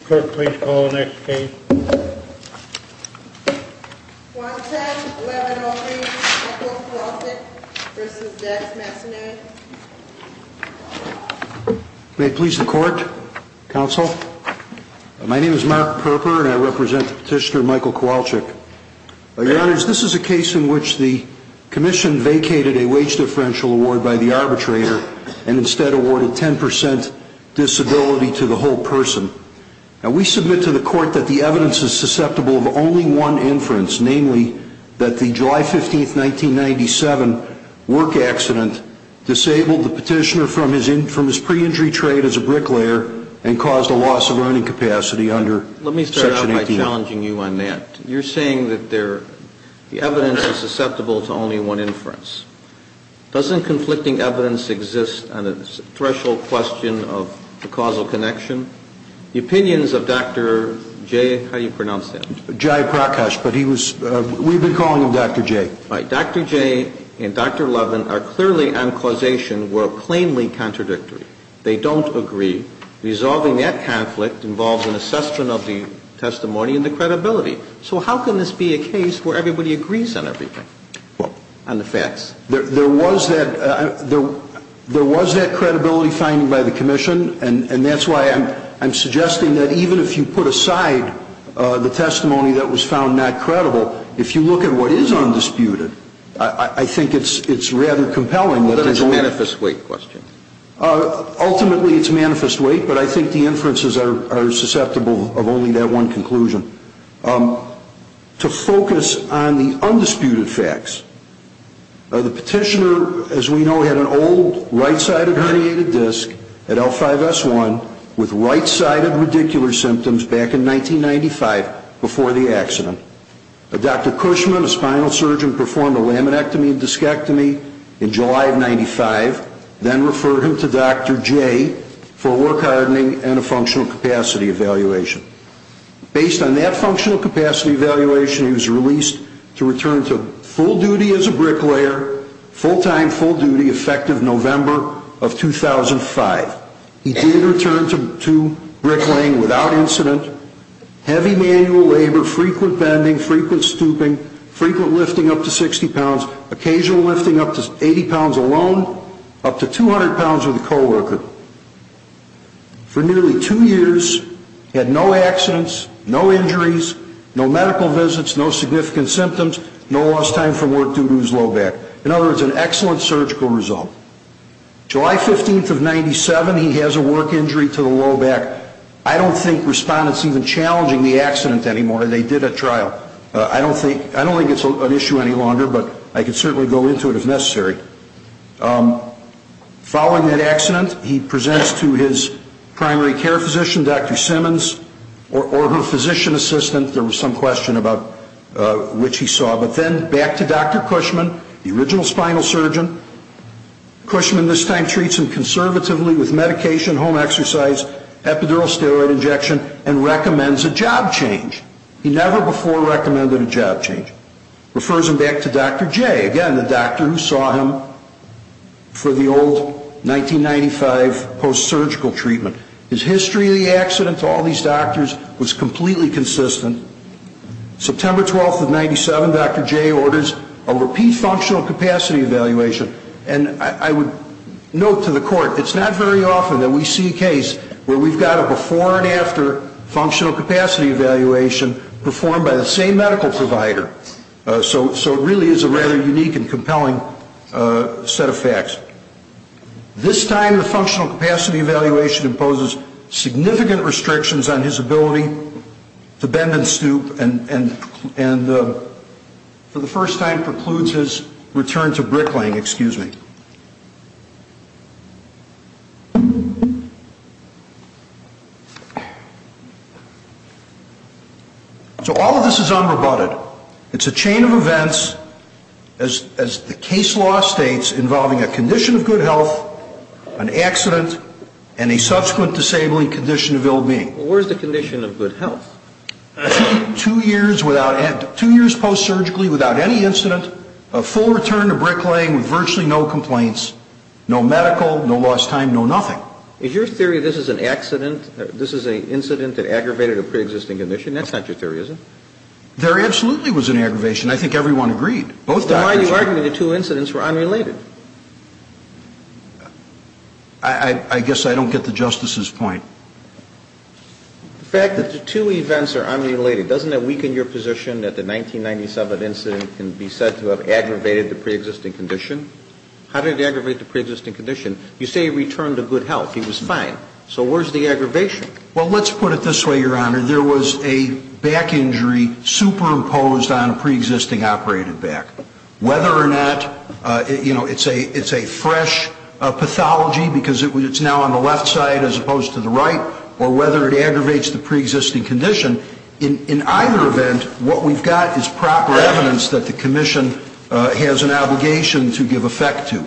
Clerk, please call the next case. Kowalczyk, 1103, Michael Kowalczyk v. Dex Massonet May it please the Court, Counsel. My name is Mark Perper and I represent the petitioner Michael Kowalczyk. Your Honors, this is a case in which the Commission vacated a wage differential award by the arbitrator and instead awarded 10% disability to the whole person. Now, we submit to the Court that the evidence is susceptible of only one inference, namely that the July 15, 1997, work accident disabled the petitioner from his pre-injury trade as a bricklayer and caused a loss of earning capacity under Section 18. Let me start out by challenging you on that. You're saying that the evidence is susceptible to only one inference. Doesn't conflicting evidence exist on the threshold question of the causal connection? The opinions of Dr. Jay, how do you pronounce that? Jay Prakash, but he was, we've been calling him Dr. Jay. Right. Dr. Jay and Dr. Levin are clearly on causation were plainly contradictory. They don't agree. Resolving that conflict involves an assessment of the testimony and the credibility. So how can this be a case where everybody agrees on everything? On the facts. There was that credibility finding by the commission, and that's why I'm suggesting that even if you put aside the testimony that was found not credible, if you look at what is undisputed, I think it's rather compelling. But it's a manifest weight question. Ultimately, it's manifest weight, but I think the inferences are susceptible of only that one conclusion. To focus on the undisputed facts. The petitioner, as we know, had an old right-sided herniated disc at L5S1 with right-sided radicular symptoms back in 1995 before the accident. Dr. Cushman, a spinal surgeon, performed a laminectomy and discectomy in July of 95, then referred him to Dr. Jay for work hardening and a functional capacity evaluation. Based on that functional capacity evaluation, he was released to return to full duty as a bricklayer, full-time, full-duty, effective November of 2005. He did return to bricklaying without incident, heavy manual labor, frequent bending, frequent stooping, frequent lifting up to 60 pounds, occasional lifting up to 80 pounds alone, up to 200 pounds with a co-worker. For nearly two years, he had no accidents, no injuries, no medical visits, no significant symptoms, no lost time from work due to his low back. In other words, an excellent surgical result. July 15 of 97, he has a work injury to the low back. I don't think respondents even challenging the accident anymore. They did a trial. I don't think it's an issue any longer, but I can certainly go into it if necessary. Following that accident, he presents to his primary care physician, Dr. Simmons, or her physician assistant. There was some question about which he saw. But then back to Dr. Cushman, the original spinal surgeon. Cushman this time treats him conservatively with medication, home exercise, epidural steroid injection, and recommends a job change. He never before recommended a job change. Refers him back to Dr. J, again, the doctor who saw him for the old 1995 post-surgical treatment. His history of the accident to all these doctors was completely consistent. September 12 of 97, Dr. J orders a repeat functional capacity evaluation. And I would note to the court, it's not very often that we see a case where we've got a before and after of a functional capacity evaluation performed by the same medical provider. So it really is a rather unique and compelling set of facts. This time the functional capacity evaluation imposes significant restrictions on his ability to bend and stoop and for the first time precludes his return to bricklaying, excuse me. So all of this is unrebutted. It's a chain of events, as the case law states, involving a condition of good health, an accident, and a subsequent disabling condition of ill-being. Well, where's the condition of good health? Two years post-surgically without any incident, a full return to bricklaying with virtually no complaints, no medical, no lost time, no nothing. Is your theory this is an accident, this is an incident that aggravated a preexisting condition? That's not your theory, is it? There absolutely was an aggravation. I think everyone agreed. Why are you arguing the two incidents were unrelated? I guess I don't get the Justice's point. The fact that the two events are unrelated, doesn't that weaken your position that the 1997 incident can be said to have aggravated the preexisting condition? How did it aggravate the preexisting condition? You say he returned to good health. He was fine. So where's the aggravation? Well, let's put it this way, Your Honor. There was a back injury superimposed on a preexisting operated back. Whether or not, you know, it's a fresh pathology because it's now on the left side as opposed to the right, or whether it aggravates the preexisting condition, in either event, what we've got is proper evidence that the commission has an obligation to give effect to.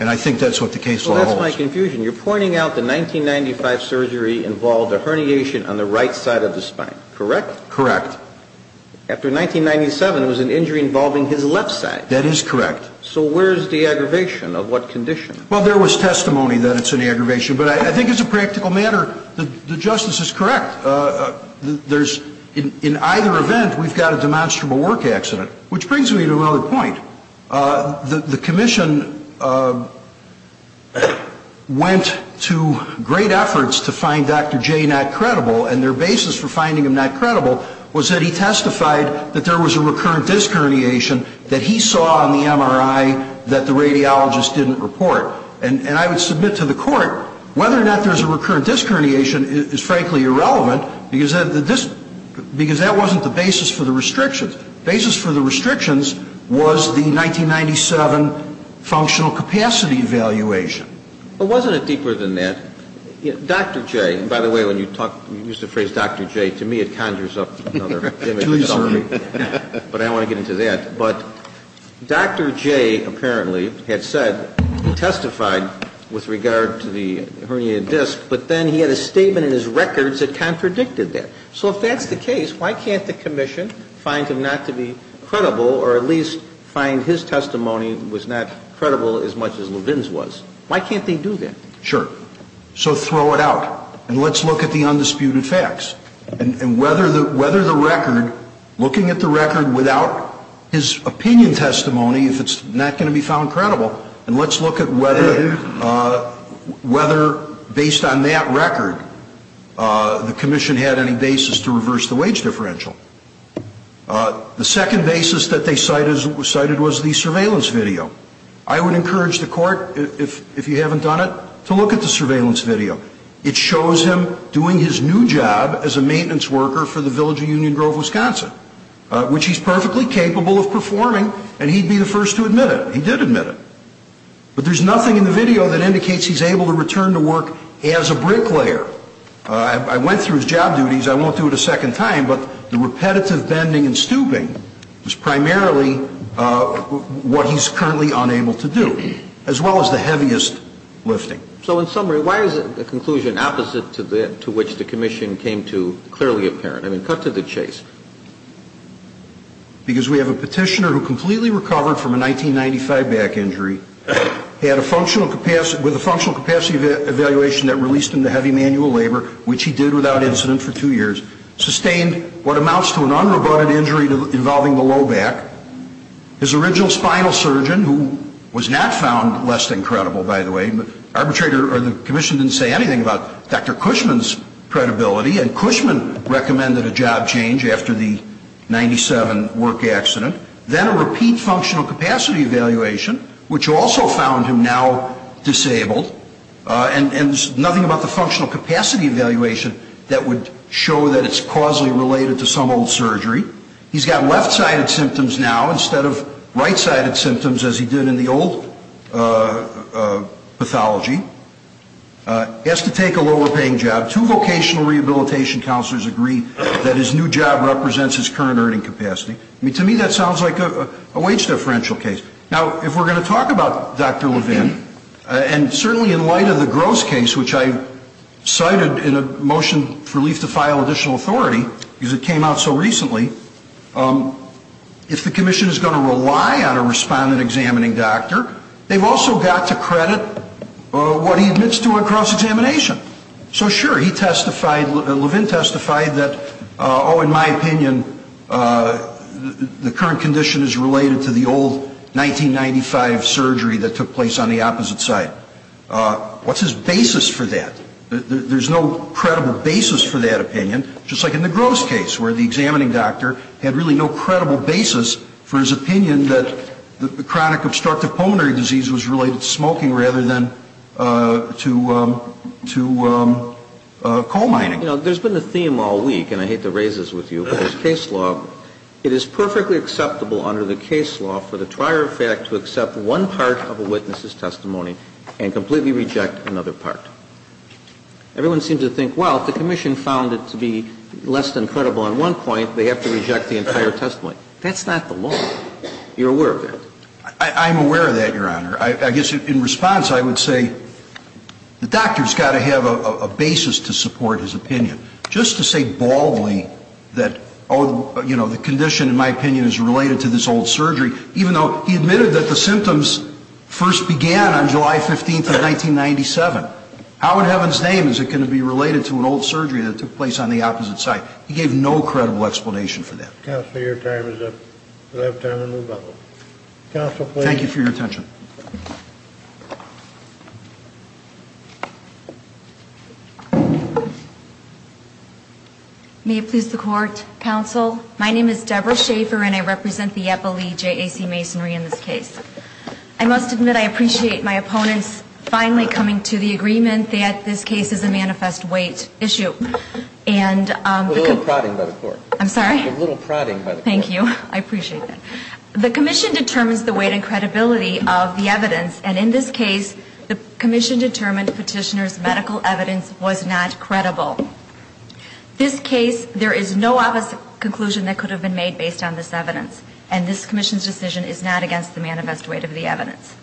And I think that's what the case law holds. Well, that's my confusion. You're pointing out the 1995 surgery involved a herniation on the right side of the spine, correct? Correct. After 1997, it was an injury involving his left side. That is correct. So where's the aggravation? Of what condition? Well, there was testimony that it's an aggravation. But I think as a practical matter, the justice is correct. In either event, we've got a demonstrable work accident. Which brings me to another point. The commission went to great efforts to find Dr. J not credible, and their basis for finding him not credible was that he testified that there was a recurrent disc herniation that he saw on the MRI that the radiologist didn't report. And I would submit to the court whether or not there's a recurrent disc herniation is frankly irrelevant because that wasn't the basis for the restrictions. The basis for the restrictions was the 1997 functional capacity evaluation. But wasn't it deeper than that? Dr. J, by the way, when you use the phrase Dr. J, to me it conjures up another image. Please do. But I don't want to get into that. But Dr. J apparently had said he testified with regard to the herniated disc, but then he had a statement in his records that contradicted that. So if that's the case, why can't the commission find him not to be credible, or at least find his testimony was not credible as much as Levin's was? Why can't they do that? Sure. So throw it out, and let's look at the undisputed facts. And whether the record, looking at the record without his opinion testimony, if it's not going to be found credible, and let's look at whether based on that record the commission had any basis to reverse the wage differential. The second basis that they cited was the surveillance video. I would encourage the court, if you haven't done it, to look at the surveillance video. It shows him doing his new job as a maintenance worker for the Village of Union Grove, Wisconsin, which he's perfectly capable of performing, and he'd be the first to admit it. He did admit it. But there's nothing in the video that indicates he's able to return to work as a bricklayer. I went through his job duties. I won't do it a second time. But the repetitive bending and stooping is primarily what he's currently unable to do, as well as the heaviest lifting. So in summary, why is the conclusion opposite to which the commission came to clearly apparent? I mean, cut to the chase. Because we have a petitioner who completely recovered from a 1995 back injury, had a functional capacity, with a functional capacity evaluation that released him to heavy manual labor, which he did without incident for two years, sustained what amounts to an unrobust injury involving the low back. His original spinal surgeon, who was not found less than credible, by the way, the commission didn't say anything about Dr. Cushman's credibility, and Cushman recommended a job change after the 1997 work accident. Then a repeat functional capacity evaluation, which also found him now disabled. And nothing about the functional capacity evaluation that would show that it's causally related to some old surgery. He's got left-sided symptoms now instead of right-sided symptoms as he did in the old pathology. He has to take a lower-paying job. Two vocational rehabilitation counselors agree that his new job represents his current earning capacity. I mean, to me that sounds like a wage differential case. Now, if we're going to talk about Dr. Levin, and certainly in light of the Gross case, which I cited in a motion for relief to file additional authority because it came out so recently, if the commission is going to rely on a respondent-examining doctor, they've also got to credit what he admits to on cross-examination. So sure, he testified, Levin testified that, oh, in my opinion, the current condition is related to the old 1995 surgery that took place on the opposite side. What's his basis for that? There's no credible basis for that opinion, just like in the Gross case, where the examining doctor had really no credible basis for his opinion that the chronic obstructive pulmonary disease was related to smoking rather than to coal mining. You know, there's been a theme all week, and I hate to raise this with you, but there's case law. It is perfectly acceptable under the case law for the trier of fact to accept one part of a witness's testimony and completely reject another part. Everyone seems to think, well, if the commission found it to be less than credible on one point, they have to reject the entire testimony. That's not the law. You're aware of that? I'm aware of that, Your Honor. I guess in response, I would say the doctor's got to have a basis to support his opinion. Just to say baldly that, oh, you know, the condition, in my opinion, is related to this old surgery, even though he admitted that the symptoms first began on July 15th of 1997. How in heaven's name is it going to be related to an old surgery that took place on the opposite side? He gave no credible explanation for that. Counsel, your time is up. We'll have time to move on. Counsel, please. Thank you for your attention. May it please the Court, Counsel. My name is Deborah Schaefer, and I represent the Epple EJAC Masonry in this case. I must admit I appreciate my opponents finally coming to the agreement that this case is a manifest weight issue. And I could- A little prodding by the Court. I'm sorry? A little prodding by the Court. Thank you. I appreciate that. The Commission determines the weight and credibility of the evidence. And in this case, the Commission determined Petitioner's medical evidence was not credible. This case, there is no opposite conclusion that could have been made based on this evidence. And this Commission's decision is not against the manifest weight of the evidence.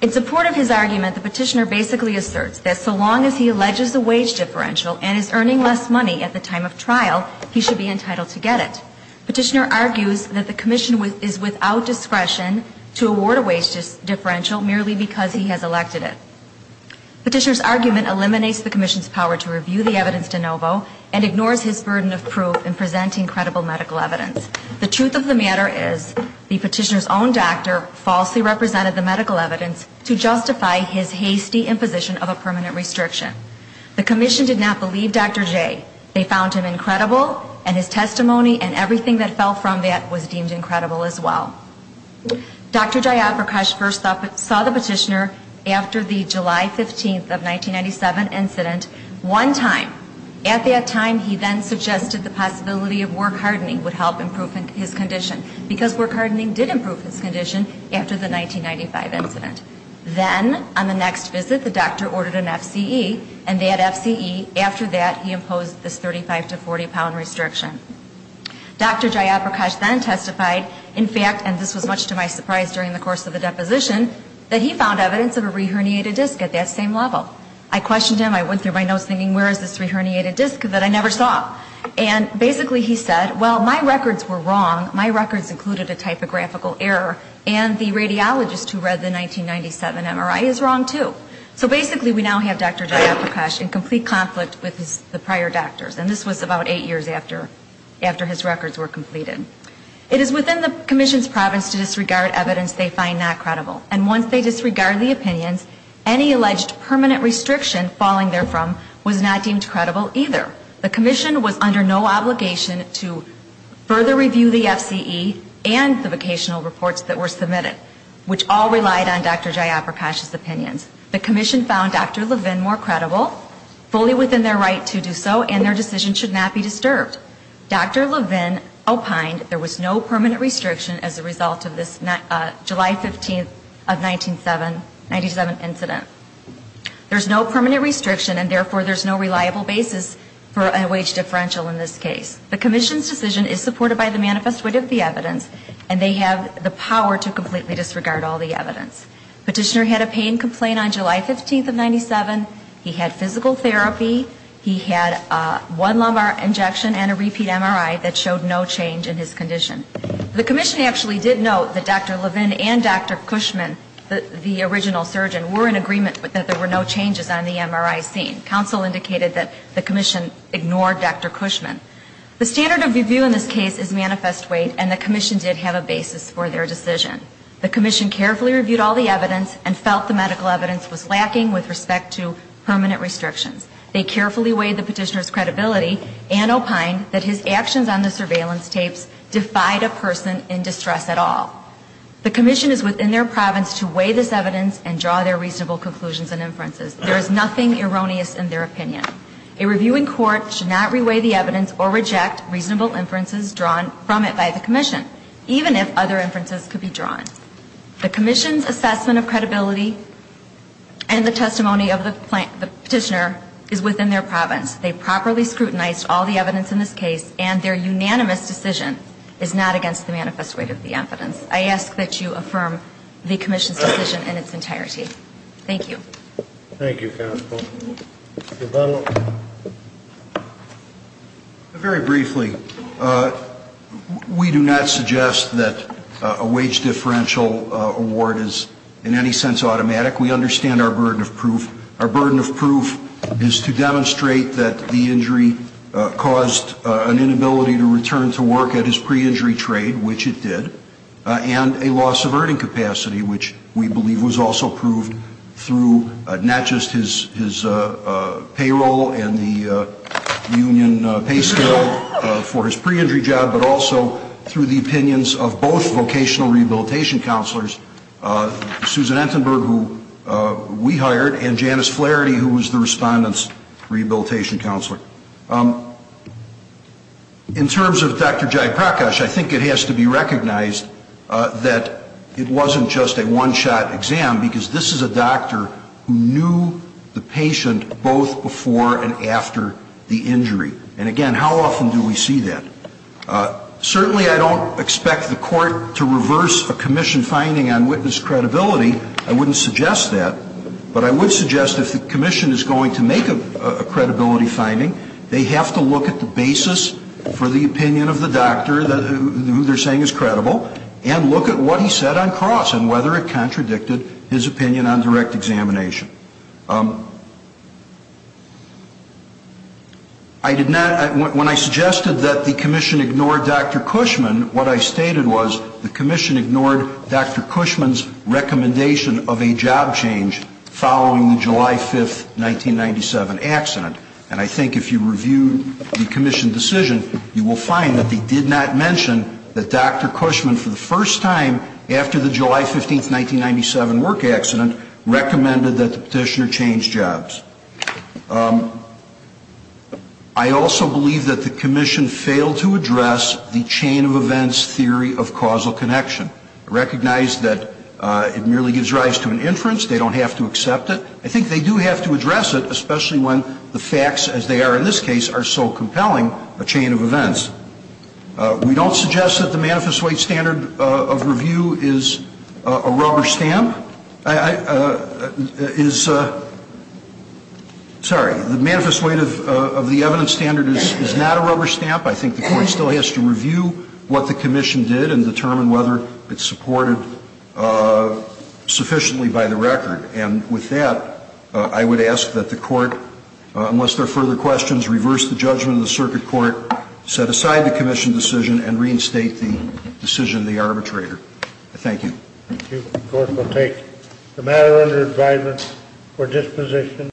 In support of his argument, the Petitioner basically asserts that so long as he alleges a wage differential and is earning less money at the time of trial, he should be entitled to get it. Petitioner argues that the Commission is without discretion to award a wage differential merely because he has elected it. Petitioner's argument eliminates the Commission's power to review the evidence de novo and ignores his burden of proof in presenting credible medical evidence. The truth of the matter is the Petitioner's own doctor falsely represented the medical evidence to justify his hasty imposition of a permanent restriction. The Commission did not believe Dr. J. They found him incredible and his testimony and everything that fell from that was deemed incredible as well. Dr. Jayaprakash first saw the Petitioner after the July 15th of 1997 incident one time. At that time, he then suggested the possibility of work hardening would help improve his condition because work hardening did improve his condition after the 1995 incident. Then, on the next visit, the doctor ordered an FCE and that FCE, after that, he imposed this 35 to 40 pound restriction. Dr. Jayaprakash then testified, in fact, and this was much to my surprise during the course of the deposition, that he found evidence of a reherniated disc at that same level. I questioned him, I went through my notes thinking, where is this reherniated disc that I never saw? And basically he said, well, my records were wrong, my records included a typographical error and the radiologist who read the 1997 MRI is wrong too. So basically we now have Dr. Jayaprakash in complete conflict with the prior doctors. And this was about eight years after his records were completed. It is within the Commission's province to disregard evidence they find not credible. And once they disregard the opinions, any alleged permanent restriction falling therefrom was not deemed credible either. The Commission was under no obligation to further review the FCE and the vocational reports that were submitted, which all relied on Dr. Jayaprakash's opinions. The Commission found Dr. Levin more credible, fully within their right to do so, and their decision should not be disturbed. Dr. Levin opined there was no permanent restriction as a result of this July 15th of 1997 incident. There's no permanent restriction, and therefore there's no reliable basis for a wage differential in this case. The Commission's decision is supported by the manifest wit of the evidence, and they have the power to completely disregard all the evidence. Petitioner had a pain complaint on July 15th of 1997. He had physical therapy. He had one lumbar injection and a repeat MRI that showed no change in his condition. The Commission actually did note that Dr. Levin and Dr. Cushman, the original surgeon, were in agreement that there were no changes on the MRI scene. Counsel indicated that the Commission ignored Dr. Cushman. The standard of review in this case is manifest weight, and the Commission did have a basis for their decision. The Commission carefully reviewed all the evidence and felt the medical evidence was lacking with respect to permanent restrictions. They carefully weighed the petitioner's credibility and opined that his actions on the surveillance tapes defied a person in distress at all. The Commission is within their province to weigh this evidence and draw their reasonable conclusions and inferences. There is nothing erroneous in their opinion. A reviewing court should not reweigh the evidence or reject reasonable inferences drawn from it by the Commission, even if other inferences could be drawn. The Commission's assessment of credibility and the testimony of the petitioner is within their province. They properly scrutinized all the evidence in this case, and their unanimous decision is not against the manifest weight of the evidence. I ask that you affirm the Commission's decision in its entirety. Thank you. Thank you, counsel. Mr. Butler. Very briefly, we do not suggest that a wage differential award is in any sense automatic. We understand our burden of proof. Our burden of proof is to demonstrate that the injury caused an inability to return to work at his pre-injury trade, which it did, and a loss of earning capacity, which we believe was also proved through not just his payroll and the union pay scale for his pre-injury job, but also through the opinions of both vocational rehabilitation counselors, Susan Entenberg, who we hired, and Janice Flaherty, who was the respondent's rehabilitation counselor. In terms of Dr. Jayaprakash, I think it has to be recognized that it wasn't just a one-shot exam, because this is a doctor who knew the patient both before and after the injury. And, again, how often do we see that? Certainly, I don't expect the Court to reverse a Commission finding on witness credibility. I wouldn't suggest that. But I would suggest if the Commission is going to make a credibility finding, they have to look at the basis for the opinion of the doctor who they're saying is credible and look at what he said on cross and whether it contradicted his opinion on direct examination. I did not, when I suggested that the Commission ignore Dr. Cushman, what I stated was the Commission ignored Dr. Cushman's recommendation of a job change following the July 5, 1997, accident. And I think if you review the Commission decision, you will find that they did not mention that Dr. Cushman, for the first time after the July 15, 1997, work accident, recommended that the Petitioner change jobs. I also believe that the Commission failed to address the chain of events theory of causal connection. I recognize that it merely gives rise to an inference. They don't have to accept it. I think they do have to address it, especially when the facts, as they are in this case, are so compelling, a chain of events. We don't suggest that the Manifest White Standard of Review is a rubber stamp. Sorry. The Manifest White of the Evidence Standard is not a rubber stamp. I think the Court still has to review what the Commission did and determine whether it's supported sufficiently by the record. And with that, I would ask that the Court, unless there are further questions, reverse the judgment of the Circuit Court, set aside the Commission decision, and reinstate the decision of the arbitrator. Thank you. The Court will take the matter under adjudgment for disposition.